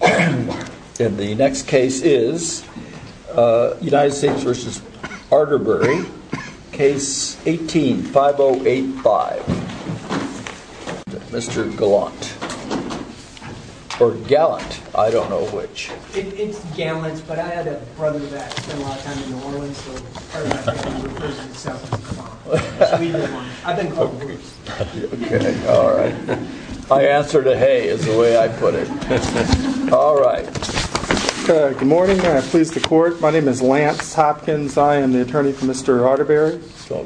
And the next case is United States v. Arterbury, case 18-5085. Mr. Gallant, or Gallant, I don't know which. It's Gallant, but I had a brother that spent a lot of time in New Orleans, so I remember him. I've been called Bruce. Okay, alright. My answer to hey is the way I put it. Alright. Good morning. I'm pleased to court. My name is Lance Hopkins. I am the attorney for Mr. Arterbury.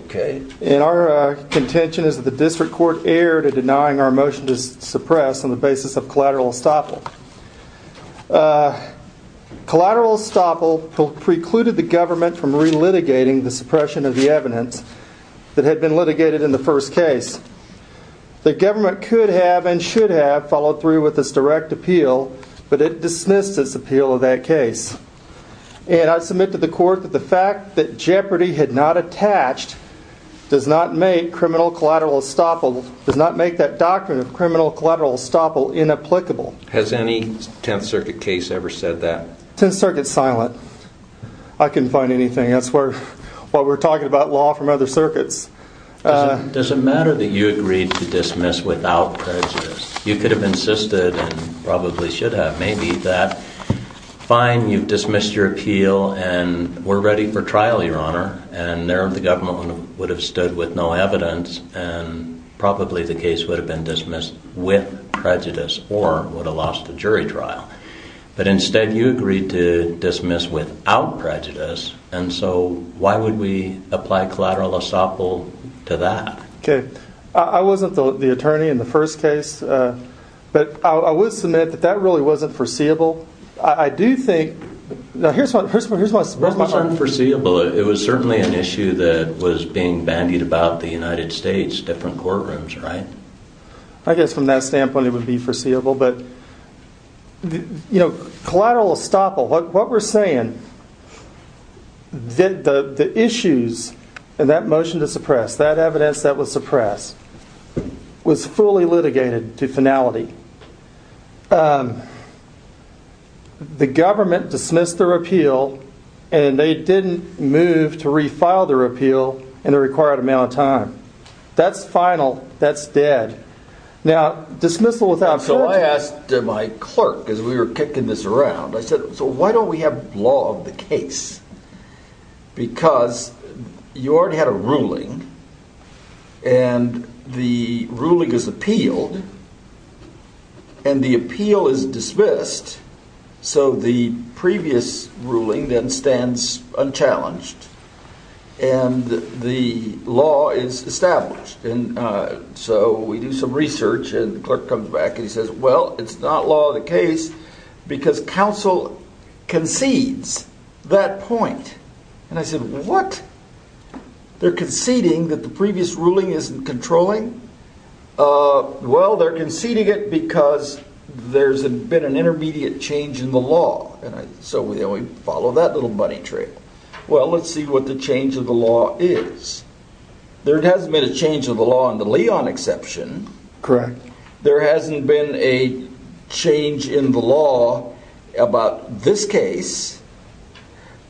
Okay. And our contention is that the district court erred in denying our motion to suppress on the basis of collateral estoppel. Collateral estoppel precluded the government from relitigating the suppression of the evidence that had been litigated in the first case. The government could have and should have followed through with this direct appeal, but it dismissed its appeal of that case. And I submit to the court that the fact that jeopardy had not attached does not make criminal collateral estoppel, does not make that doctrine of criminal collateral estoppel inapplicable. Has any Tenth Circuit case ever said that? Tenth Circuit's silent. I couldn't find anything. That's why we're talking about law from other circuits. Does it matter that you agreed to dismiss without prejudice? You could have insisted and probably should have, maybe, that fine, you've dismissed your appeal and we're ready for trial, Your Honor. And there the government would have stood with no evidence and probably the case would have been dismissed with prejudice or would have lost the jury trial. But instead you agreed to dismiss without prejudice and so why would we apply collateral estoppel to that? Okay. I wasn't the attorney in the first case, but I will submit that that really wasn't foreseeable. I do think, now here's my, here's my, here's my, It wasn't foreseeable. It was certainly an issue that was being bandied about the United States, different courtrooms, right? I guess from that standpoint it would be foreseeable, but, you know, collateral estoppel, what we're saying, the issues in that motion to suppress, that evidence that was suppressed, was fully litigated to finality. The government dismissed their appeal and they didn't move to refile their appeal in the required amount of time. That's final. That's dead. Now, dismissal without prejudice. So I asked my clerk, as we were kicking this around, I said, so why don't we have law of the case? Because you already had a ruling and the ruling is appealed and the appeal is dismissed, so the previous ruling then stands unchallenged and the law is established. And so we do some research and the clerk comes back and he says, well, it's not law of the case because counsel concedes that point. And I said, what? They're conceding that the previous ruling isn't controlling? Well, they're conceding it because there's been an intermediate change in the law. So we follow that little bunny trail. Well, let's see what the change of the law is. There hasn't been a change of the law in the Leon exception. Correct. There hasn't been a change in the law about this case.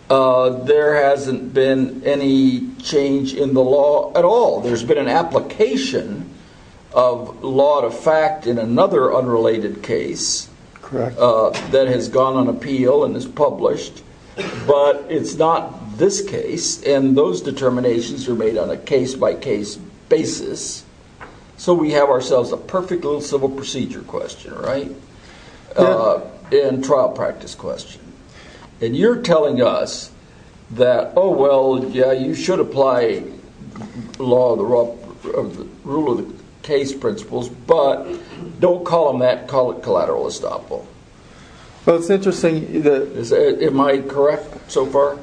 There hasn't been any change in the law at all. There's been an application of law to fact in another unrelated case. Correct. That has gone on appeal and is published. But it's not this case. And those determinations are made on a case by case basis. So we have ourselves a perfect little civil procedure question, right? And trial practice question. And you're telling us that, oh, well, yeah, you should apply law of the rule of the case principles, but don't call them that. Call it collateral estoppel. Well, it's interesting. Am I correct so far?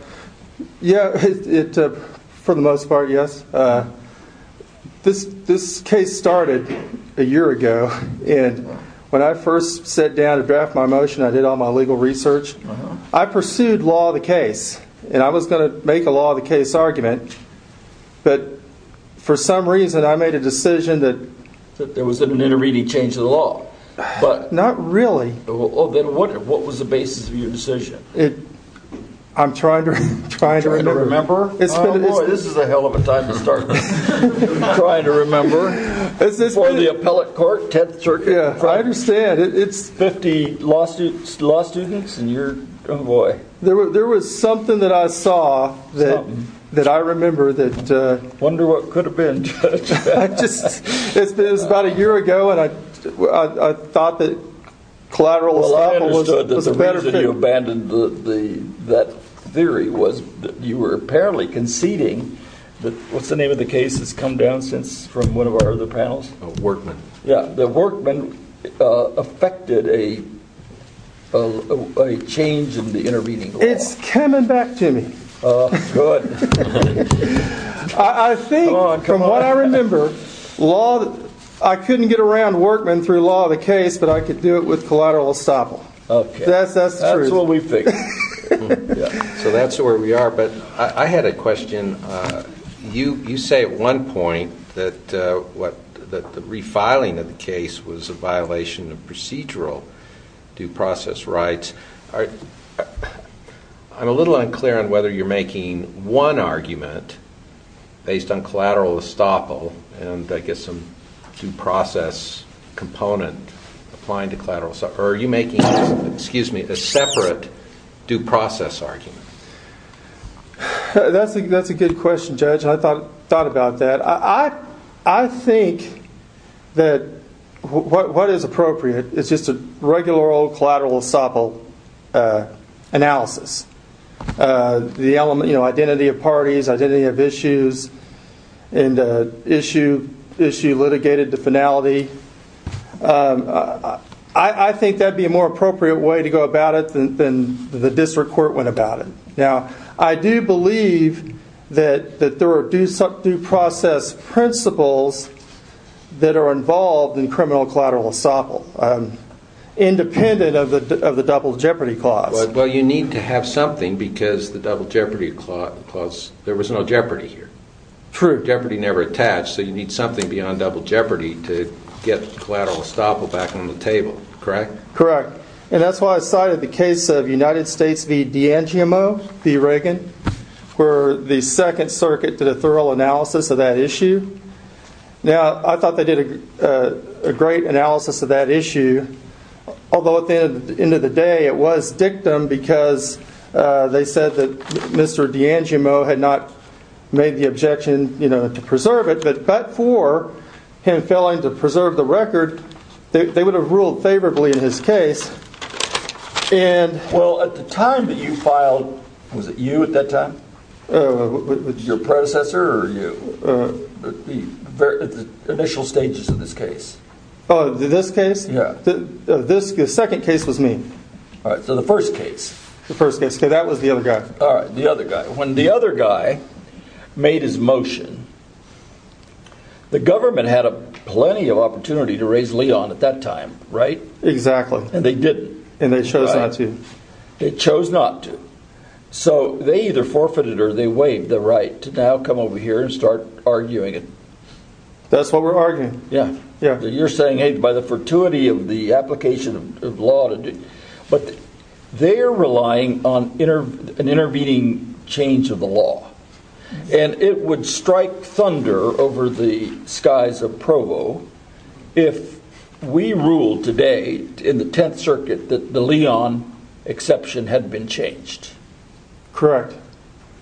Yeah, for the most part, yes. This case started a year ago. And when I first sat down to draft my motion, I did all my legal research. I pursued law of the case. And I was going to make a law of the case argument. But for some reason, I made a decision that... That there was an iterative change of the law. Not really. Then what was the basis of your decision? I'm trying to remember. Oh, boy, this is a hell of a time to start trying to remember. For the appellate court, 10th Circuit. I understand. Fifty law students and you're... Oh, boy. There was something that I saw that I remember that... I wonder what could have been, Judge. It was about a year ago, and I thought that collateral estoppel was a better fit. The reason you abandoned that theory was that you were apparently conceding that... What's the name of the case that's come down since from one of our other panels? Workman. Yeah, the Workman affected a change in the intervening law. It's coming back to me. Oh, good. I think, from what I remember, law... I couldn't get around Workman through law of the case, but I could do it with collateral estoppel. That's the truth. That's what we think. So that's where we are, but I had a question. You say at one point that the refiling of the case was a violation of procedural due process rights. I'm a little unclear on whether you're making one argument based on collateral estoppel and, I guess, some due process component applying to collateral. Or are you making a separate due process argument? That's a good question, Judge, and I thought about that. I think that what is appropriate is just a regular old collateral estoppel analysis. The element, you know, identity of parties, identity of issues, and issue litigated to finality. I think that would be a more appropriate way to go about it than the district court went about it. Now, I do believe that there are due process principles that are involved in criminal collateral estoppel, independent of the double jeopardy clause. Well, you need to have something because the double jeopardy clause, there was no jeopardy here. True, jeopardy never attached, so you need something beyond double jeopardy to get collateral estoppel back on the table. Correct? Correct. And that's why I cited the case of United States v. DeAngiomo v. Reagan, where the Second Circuit did a thorough analysis of that issue. Now, I thought they did a great analysis of that issue, although at the end of the day it was dictum because they said that Mr. DeAngiomo had not made the objection to preserve it. But for him failing to preserve the record, they would have ruled favorably in his case. Well, at the time that you filed, was it you at that time? Your predecessor or you? The initial stages of this case. Oh, this case? Yeah. The second case was me. All right, so the first case. The first case, because that was the other guy. All right, the other guy. When the other guy made his motion, the government had plenty of opportunity to raise Leon at that time, right? Exactly. And they didn't. And they chose not to. They chose not to. So they either forfeited or they waived the right to now come over here and start arguing it. That's what we're arguing. Yeah. You're saying, hey, by the fortuity of the application of law, but they're relying on an intervening change of the law. And it would strike thunder over the skies of Provo if we ruled today in the Tenth Circuit that the Leon exception had been changed. Correct.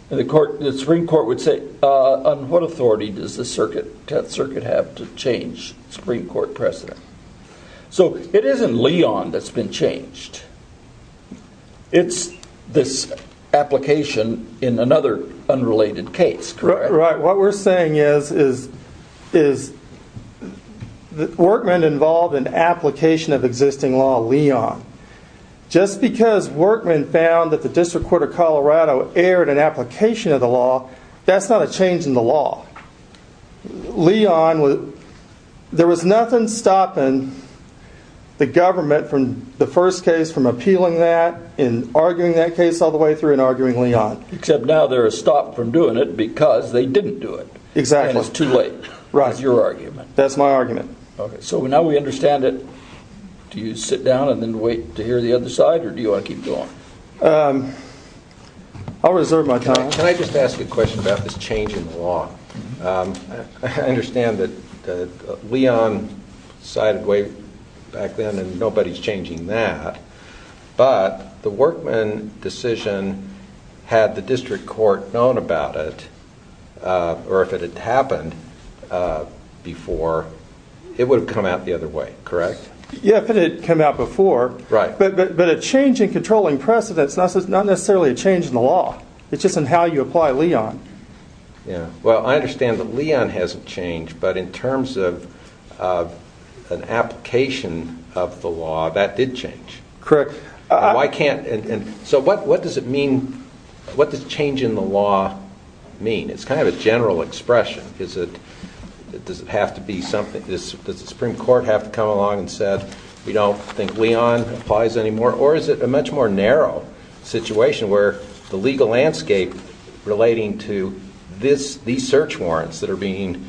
And the Supreme Court would say, on what authority does the Tenth Circuit have to change Supreme Court precedent? So it isn't Leon that's been changed. It's this application in another unrelated case, correct? Right. What we're saying is that Workman involved an application of existing law, Leon. Just because Workman found that the District Court of Colorado aired an application of the law, that's not a change in the law. Leon, there was nothing stopping the government from the first case, from appealing that and arguing that case all the way through and arguing Leon. Except now they're stopped from doing it because they didn't do it. Exactly. And it's too late. That's your argument. That's my argument. Okay. So now we understand it. Do you sit down and then wait to hear the other side or do you want to keep going? I'll reserve my time. Can I just ask a question about this change in the law? I understand that Leon sided way back then and nobody's changing that. But the Workman decision, had the District Court known about it, or if it had happened before, it would have come out the other way, correct? Yeah, if it had come out before. Right. But a change in controlling precedent is not necessarily a change in the law. It's just in how you apply Leon. Yeah. Well, I understand that Leon hasn't changed, but in terms of an application of the law, that did change. Correct. So what does change in the law mean? It's kind of a general expression. Does the Supreme Court have to come along and say, we don't think Leon applies anymore? Or is it a much more narrow situation where the legal landscape relating to these search warrants that are being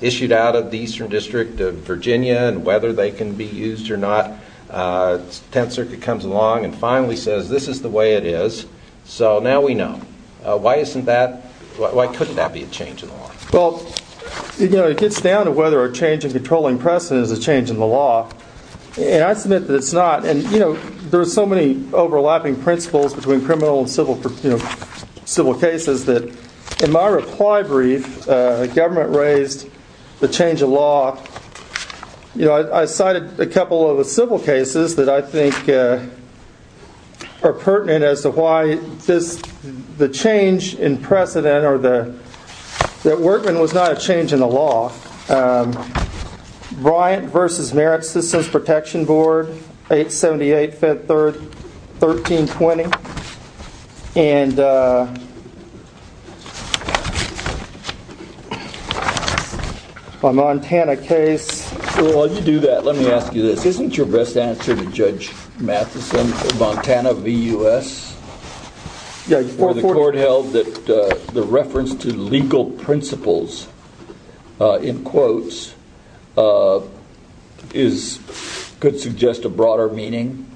issued out of the Eastern District of Virginia and whether they can be used or not, the Tenth Circuit comes along and finally says, this is the way it is. So now we know. Why couldn't that be a change in the law? Well, it gets down to whether a change in controlling precedent is a change in the law. And I submit that it's not. And there are so many overlapping principles between criminal and civil cases that in my reply brief, the government raised the change in law. I cited a couple of the civil cases that I think are pertinent as to why the change in precedent or that Workman was not a change in the law. Bryant v. Merit Systems Protection Board, 878-513-20. A Montana case. While you do that, let me ask you this. Isn't your best answer to Judge Matheson, Montana v. U.S., where the court held that the reference to legal principles, in quotes, could suggest a broader meaning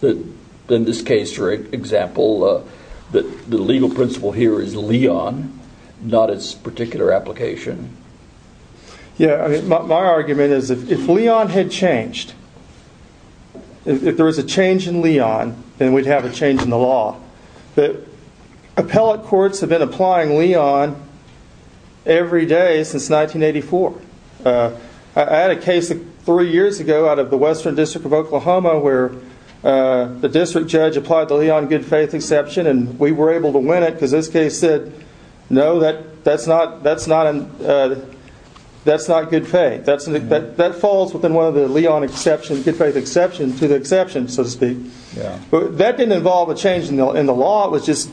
than this case, for example, that the legal principle here is Leon, not its particular application? Yeah, my argument is if Leon had changed, if there was a change in Leon, then we'd have a change in the law. But appellate courts have been applying Leon every day since 1984. I had a case three years ago out of the Western District of Oklahoma where the district judge applied the Leon good-faith exception and we were able to win it because this case said, no, that's not good faith. That falls within one of the Leon good-faith exceptions to the exception, so to speak. That didn't involve a change in the law. It was just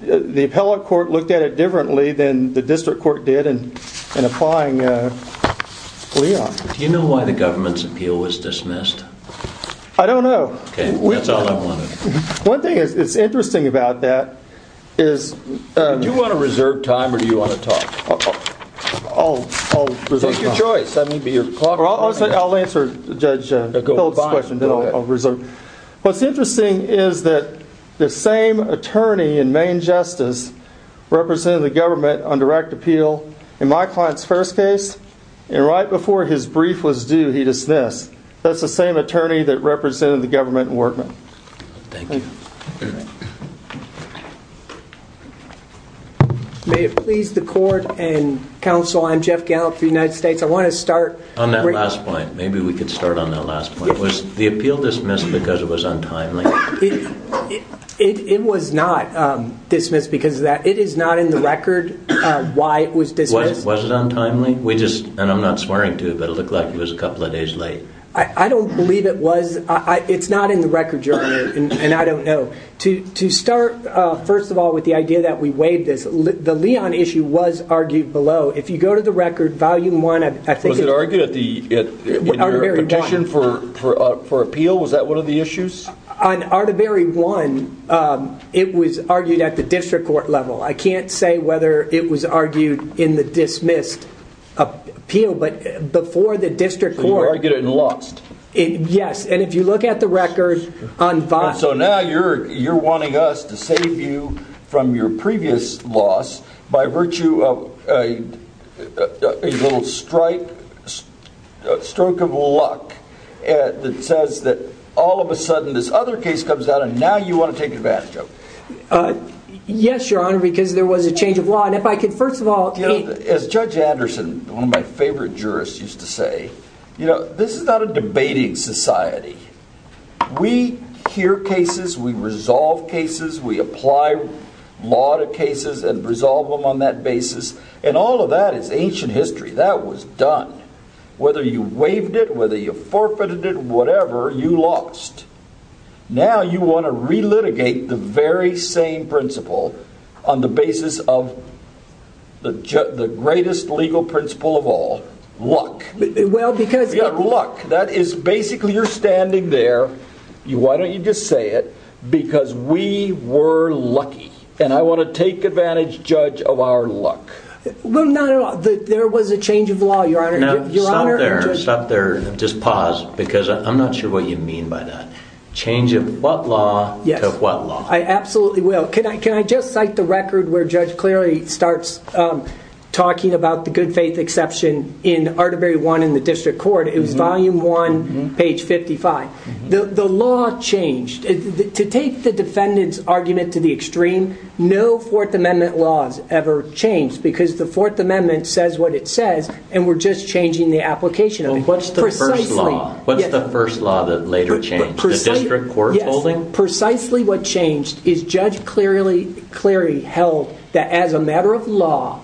the appellate court looked at it differently than the district court did in applying Leon. Do you know why the government's appeal was dismissed? I don't know. Okay, that's all I wanted. One thing that's interesting about that is... Do you want to reserve time or do you want to talk? I'll reserve time. Take your choice. I'll answer Judge Hill's question, then I'll reserve. What's interesting is that the same attorney in main justice represented the government on direct appeal in my client's first case. And right before his brief was due, he dismissed. That's the same attorney that represented the government in Workman. Thank you. May it please the court and counsel, I'm Jeff Gallant for the United States. On that last point, maybe we could start on that last point. Was the appeal dismissed because it was untimely? It was not dismissed because of that. It is not in the record why it was dismissed. Was it untimely? And I'm not swearing to you, but it looked like it was a couple of days late. I don't believe it was. It's not in the record, Your Honor, and I don't know. To start, first of all, with the idea that we waived this, the Leon issue was argued below. If you go to the record, Volume 1, I think it's— Was it argued in your petition for appeal? Was that one of the issues? On Artebury 1, it was argued at the district court level. I can't say whether it was argued in the dismissed appeal, but before the district court— So you argued it and lost. Yes, and if you look at the record on— So now you're wanting us to save you from your previous loss by virtue of a little stroke of luck that says that all of a sudden this other case comes out and now you want to take advantage of it. Yes, Your Honor, because there was a change of law, and if I could, first of all— As Judge Anderson, one of my favorite jurists, used to say, this is not a debating society. We hear cases, we resolve cases, we apply law to cases and resolve them on that basis, and all of that is ancient history. That was done. Whether you waived it, whether you forfeited it, whatever, you lost. Now you want to relitigate the very same principle on the basis of the greatest legal principle of all, luck. Look, that is—basically you're standing there. Why don't you just say it? Because we were lucky, and I want to take advantage, Judge, of our luck. Well, no, no, there was a change of law, Your Honor. Stop there. Stop there. Just pause, because I'm not sure what you mean by that. Change of what law to what law? I absolutely will. Can I just cite the record where Judge Cleary starts talking about the good faith exception in Arterbury 1 in the district court? It was volume 1, page 55. The law changed. To take the defendant's argument to the extreme, no Fourth Amendment law has ever changed, because the Fourth Amendment says what it says, and we're just changing the application of it. What's the first law that later changed? The district court holding? And precisely what changed is Judge Cleary held that as a matter of law,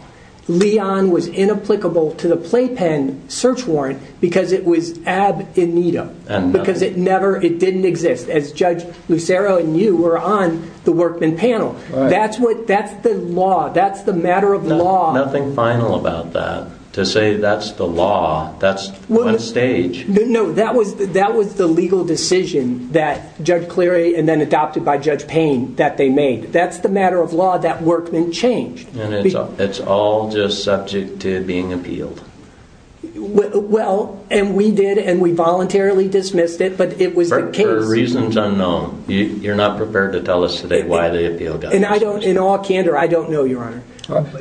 Leon was inapplicable to the playpen search warrant because it was ab in nido, because it never—it didn't exist, as Judge Lucero and you were on the workman panel. That's what—that's the law. That's the matter of law. Nothing final about that. To say that's the law, that's one stage. No, that was the legal decision that Judge Cleary and then adopted by Judge Payne that they made. That's the matter of law that workman changed. And it's all just subject to being appealed. Well, and we did, and we voluntarily dismissed it, but it was the case. For reasons unknown. You're not prepared to tell us today why the appeal got dismissed. In all candor, I don't know, Your Honor.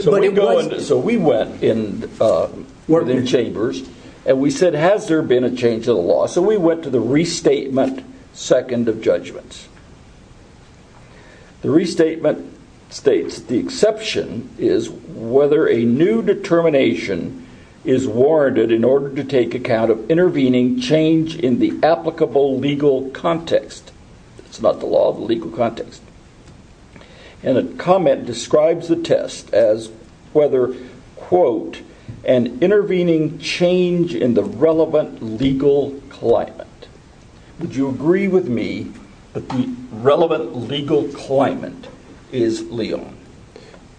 So we went in the chambers, and we said, has there been a change in the law? So we went to the restatement second of judgments. The restatement states, the exception is whether a new determination is warranted in order to take account of intervening change in the applicable legal context. It's not the law, the legal context. And a comment describes the test as whether, quote, an intervening change in the relevant legal climate. Would you agree with me that the relevant legal climate is legal?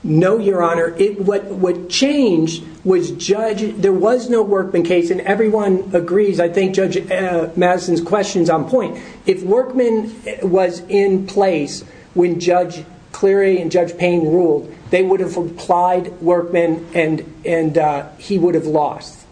No, Your Honor. What changed was Judge, there was no workman case, and everyone agrees. I think Judge Madison's question's on point. If workman was in place when Judge Cleary and Judge Payne ruled, they would have applied workman, and he would have lost.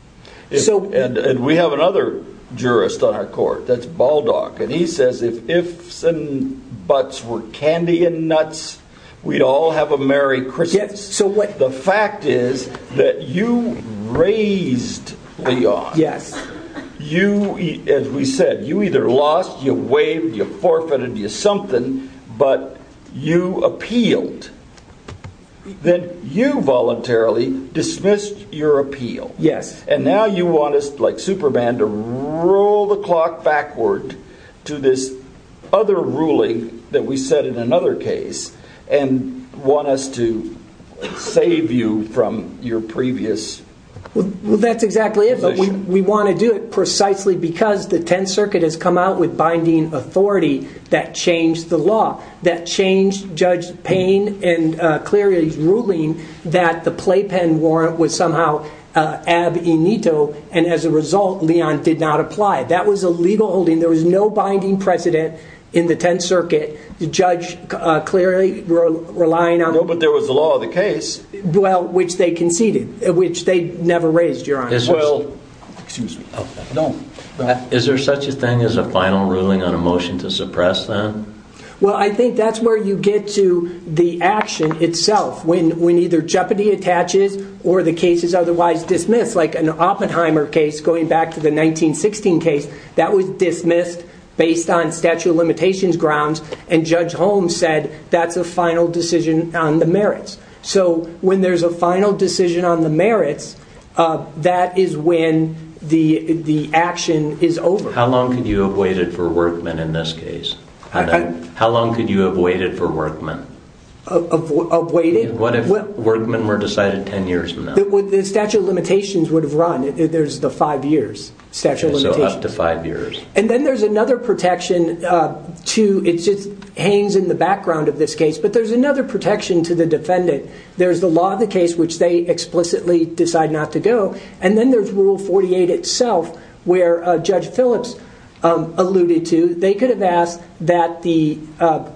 And we have another jurist on our court, that's Baldock, and he says if ifs and buts were candy and nuts, we'd all have a merry Christmas. The fact is that you raised Leon. You, as we said, you either lost, you waived, you forfeited, you something, but you appealed. Then you voluntarily dismissed your appeal. And now you want us, like Superman, to roll the clock backward to this other ruling that we set in another case and want us to save you from your previous... Well, that's exactly it. We want to do it precisely because the Tenth Circuit has come out with binding authority that changed the law, that changed Judge Payne and Cleary's ruling that the playpen warrant was somehow ab in ito, and as a result, Leon did not apply. That was a legal holding. There was no binding precedent in the Tenth Circuit. Judge Cleary relying on... No, but there was the law of the case. Well, which they conceded, which they never raised, Your Honor. Well, excuse me. Is there such a thing as a final ruling on a motion to suppress that? Well, I think that's where you get to the action itself. When either jeopardy attaches or the case is otherwise dismissed, like an Oppenheimer case going back to the 1916 case, that was dismissed based on statute of limitations grounds, and Judge Holmes said that's a final decision on the merits. So when there's a final decision on the merits, that is when the action is over. How long could you have waited for Workman in this case? How long could you have waited for Workman? Waited? What if Workman were decided 10 years from now? The statute of limitations would have run. There's the 5 years statute of limitations. So up to 5 years. And then there's another protection. It just hangs in the background of this case, but there's another protection to the defendant. There's the law of the case, which they explicitly decide not to go, and then there's Rule 48 itself, where Judge Phillips alluded to. They could have asked that the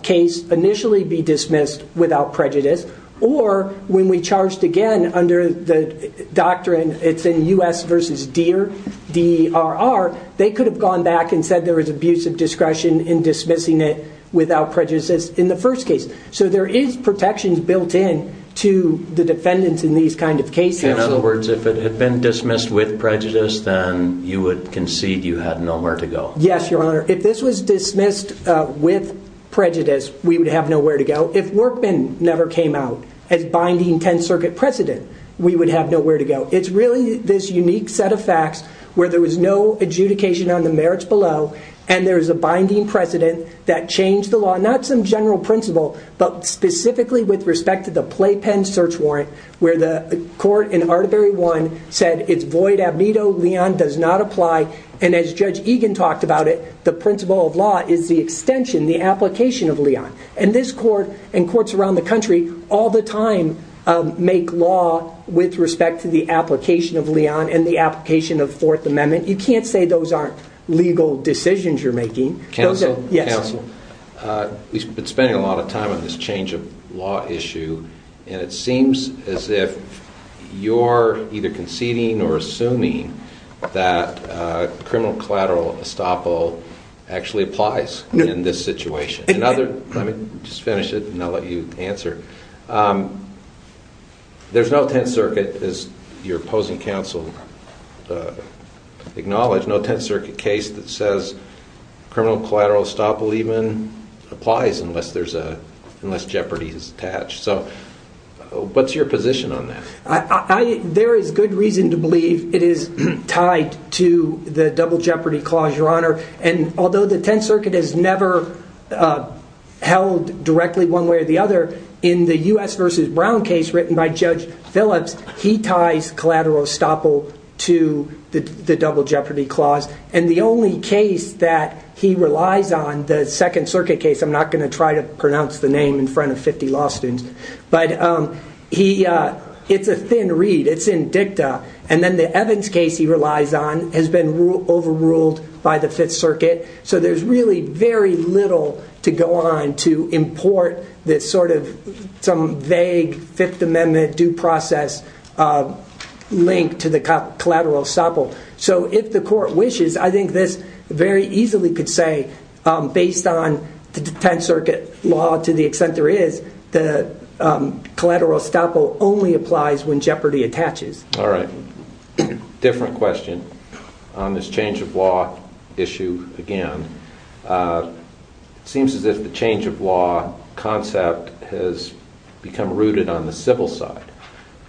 case initially be dismissed without prejudice, or when we charged again under the doctrine, it's in U.S. v. DER, D-R-R, they could have gone back and said there was abusive discretion in dismissing it without prejudice in the first case. So there is protections built in to the defendants in these kind of cases. In other words, if it had been dismissed with prejudice, then you would concede you had nowhere to go. Yes, Your Honor. If this was dismissed with prejudice, we would have nowhere to go. If Workman never came out as binding 10th Circuit precedent, we would have nowhere to go. It's really this unique set of facts where there was no adjudication on the merits below, and there's a binding precedent that changed the law. Not some general principle, but specifically with respect to the playpen search warrant, where the court in Arterbury 1 said it's void ab nido, Leon does not apply, and as Judge Egan talked about it, the principle of law is the extension, the application of Leon. And this court and courts around the country all the time make law with respect to the application of Leon and the application of Fourth Amendment. You can't say those aren't legal decisions you're making. Counsel? Yes. We've been spending a lot of time on this change of law issue, and it seems as if you're either conceding or assuming that criminal collateral estoppel actually applies in this situation. Let me just finish it, and I'll let you answer. There's no Tenth Circuit, as your opposing counsel acknowledged, no Tenth Circuit case that says criminal collateral estoppel even applies unless jeopardy is attached. So what's your position on that? There is good reason to believe it is tied to the double jeopardy clause, Your Honor, and although the Tenth Circuit has never held directly one way or the other, in the U.S. v. Brown case written by Judge Phillips, he ties collateral estoppel to the double jeopardy clause. And the only case that he relies on, the Second Circuit case, I'm not going to try to pronounce the name in front of 50 law students, but it's a thin reed. It's in dicta. And then the Evans case he relies on has been overruled by the Fifth Circuit, so there's really very little to go on to import this sort of some vague Fifth Amendment due process link to the collateral estoppel. So if the court wishes, I think this very easily could say, based on the Tenth Circuit law to the extent there is, the collateral estoppel only applies when jeopardy attaches. All right. Different question. On this change of law issue again, it seems as if the change of law concept has become rooted on the civil side,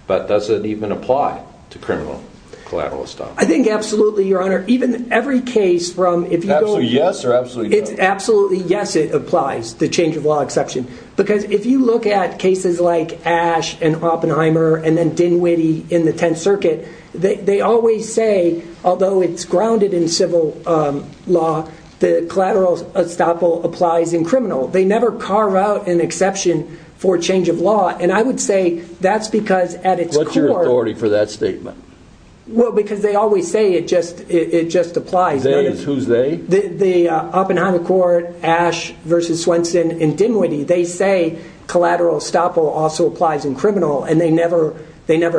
but does it even apply to criminal collateral estoppel? I think absolutely, Your Honor. Even every case from if you go to- Absolutely yes or absolutely no? It's absolutely yes it applies, the change of law exception, because if you look at cases like Ash and Oppenheimer and then Dinwiddie in the Tenth Circuit, they always say, although it's grounded in civil law, the collateral estoppel applies in criminal. They never carve out an exception for change of law, and I would say that's because at its core- What's your authority for that statement? Well, because they always say it just applies. They? Who's they? Oppenheimer Court, Ash versus Swenson, and Dinwiddie. They say collateral estoppel also applies in criminal, and they never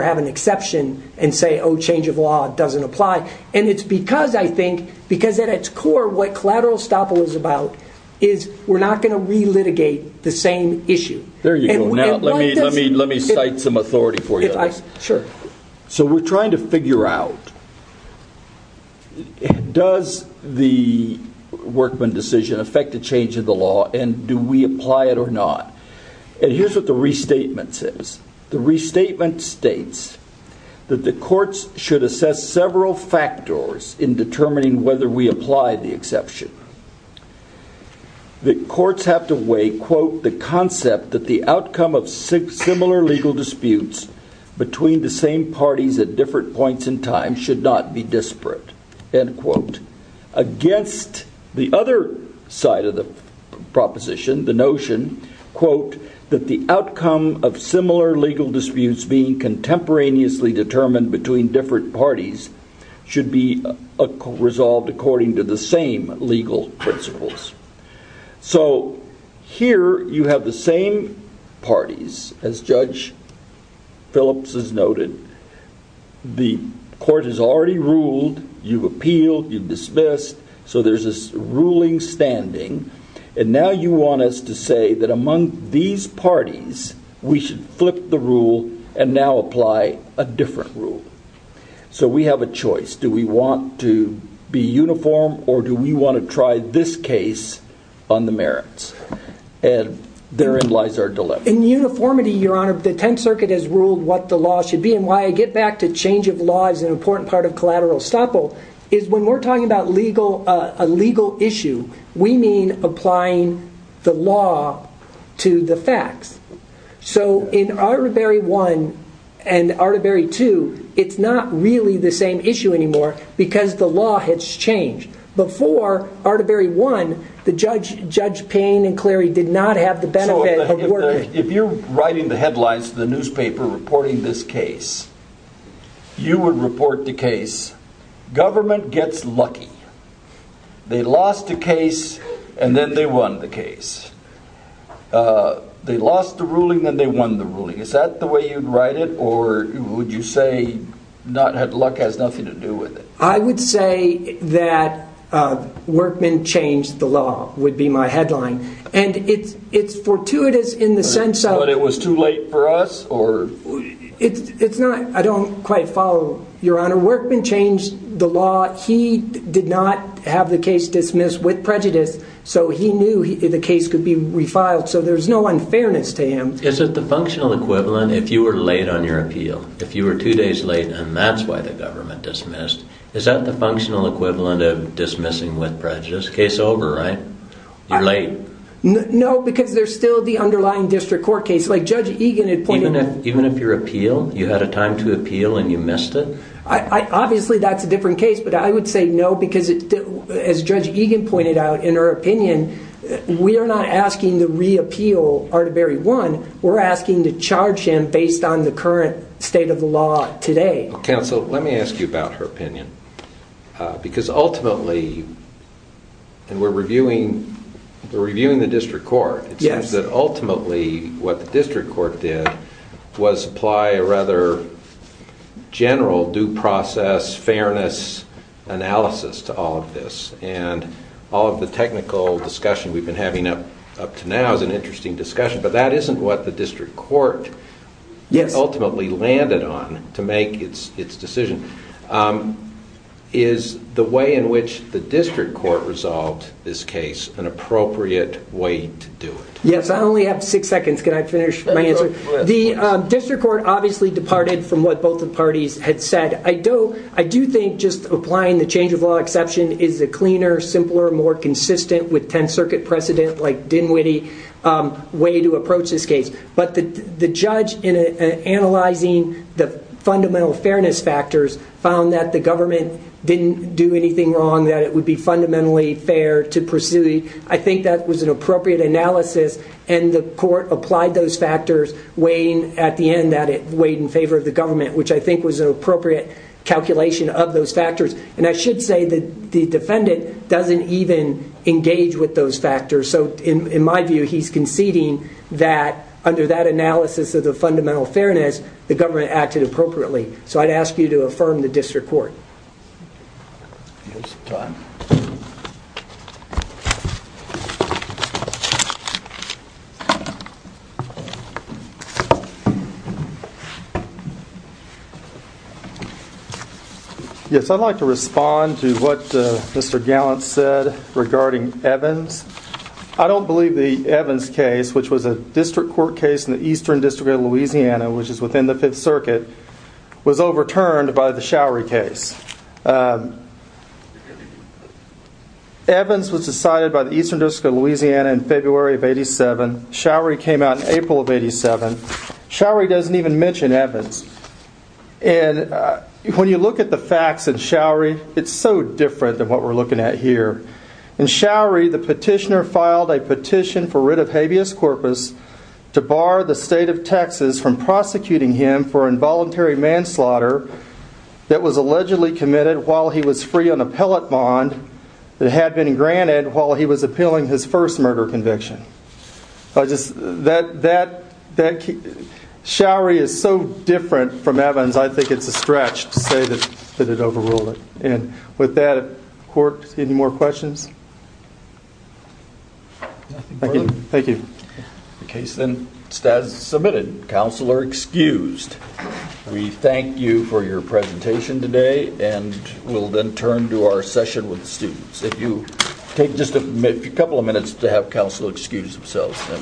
have an exception and say, oh, change of law doesn't apply. And it's because, I think, because at its core, what collateral estoppel is about is we're not going to re-litigate the same issue. There you go. Now let me cite some authority for you. Sure. So we're trying to figure out, does the Workman decision affect the change of the law, and do we apply it or not? And here's what the restatement says. The restatement states that the courts should assess several factors in determining whether we apply the exception. The courts have to weigh, quote, the concept that the outcome of similar legal disputes between the same parties at different points in time should not be disparate. End quote. Against the other side of the proposition, the notion, quote, that the outcome of similar legal disputes being contemporaneously determined between different parties should be resolved according to the same legal principles. So here you have the same parties. As Judge Phillips has noted, the court has already ruled. You've appealed. You've dismissed. So there's this ruling standing. And now you want us to say that among these parties, we should flip the rule and now apply a different rule. So we have a choice. Do we want to be uniform, or do we want to try this case on the merits? And therein lies our dilemma. In uniformity, Your Honor, the Tenth Circuit has ruled what the law should be. And why I get back to change of law is an important part of collateral estoppel is when we're talking about a legal issue, we mean applying the law to the facts. So in Ardaberry 1 and Ardaberry 2, it's not really the same issue anymore because the law has changed. Before Ardaberry 1, Judge Payne and Clary did not have the benefit. If you're writing the headlines for the newspaper reporting this case, you would report the case, government gets lucky. They lost the case, and then they won the case. They lost the ruling, then they won the ruling. Is that the way you'd write it, or would you say luck has nothing to do with it? I would say that Workman changed the law would be my headline. And it's fortuitous in the sense of... But it was too late for us? It's not. I don't quite follow, Your Honor. When Workman changed the law, he did not have the case dismissed with prejudice, so he knew the case could be refiled. So there's no unfairness to him. Is it the functional equivalent if you were late on your appeal? If you were two days late, and that's why the government dismissed, is that the functional equivalent of dismissing with prejudice? Case over, right? You're late. No, because there's still the underlying district court case. Like Judge Egan had pointed out... Even if your appeal, you had a time to appeal and you missed it? Obviously that's a different case, but I would say no, because as Judge Egan pointed out in her opinion, we are not asking to reappeal Artebery 1. We're asking to charge him based on the current state of the law today. Counsel, let me ask you about her opinion. Because ultimately... And we're reviewing the district court. It seems that ultimately what the district court did was apply a rather general due process, fairness analysis to all of this. And all of the technical discussion we've been having up to now is an interesting discussion, but that isn't what the district court ultimately landed on to make its decision. Is the way in which the district court resolved this case an appropriate way to do it? Yes, I only have six seconds. Can I finish my answer? The district court obviously departed from what both the parties had said. I do think just applying the change of law exception is a cleaner, simpler, more consistent, with 10th Circuit precedent, like Dinwiddie, way to approach this case. But the judge, in analyzing the fundamental fairness factors, found that the government didn't do anything wrong, that it would be fundamentally fair to pursue... I think that was an appropriate analysis, and the court applied those factors, weighing at the end that it weighed in favor of the government, which I think was an appropriate calculation of those factors. And I should say that the defendant doesn't even engage with those factors. So in my view, he's conceding that, under that analysis of the fundamental fairness, the government acted appropriately. So I'd ask you to affirm the district court. We have some time. Yes, I'd like to respond to what Mr. Gallant said regarding Evans. I don't believe the Evans case, which was a district court case in the Eastern District of Louisiana, which is within the 5th Circuit, was overturned by the Showery case. Evans was decided by the Eastern District of Louisiana in February of 87. Showery came out in April of 87. Showery doesn't even mention Evans. And when you look at the facts in Showery, it's so different than what we're looking at here. In Showery, the petitioner filed a petition for writ of habeas corpus to bar the state of Texas from prosecuting him for involuntary manslaughter that was allegedly committed while he was free on a pellet bond that had been granted while he was appealing his first murder conviction. Showery is so different from Evans, I think it's a stretch to say that it overruled it. And with that, court, any more questions? Nothing further? Thank you. The case then is submitted. Counsel are excused. We thank you for your presentation today and we'll then turn to our session with the students. If you take just a couple of minutes to have counsel excuse themselves, then we'll start.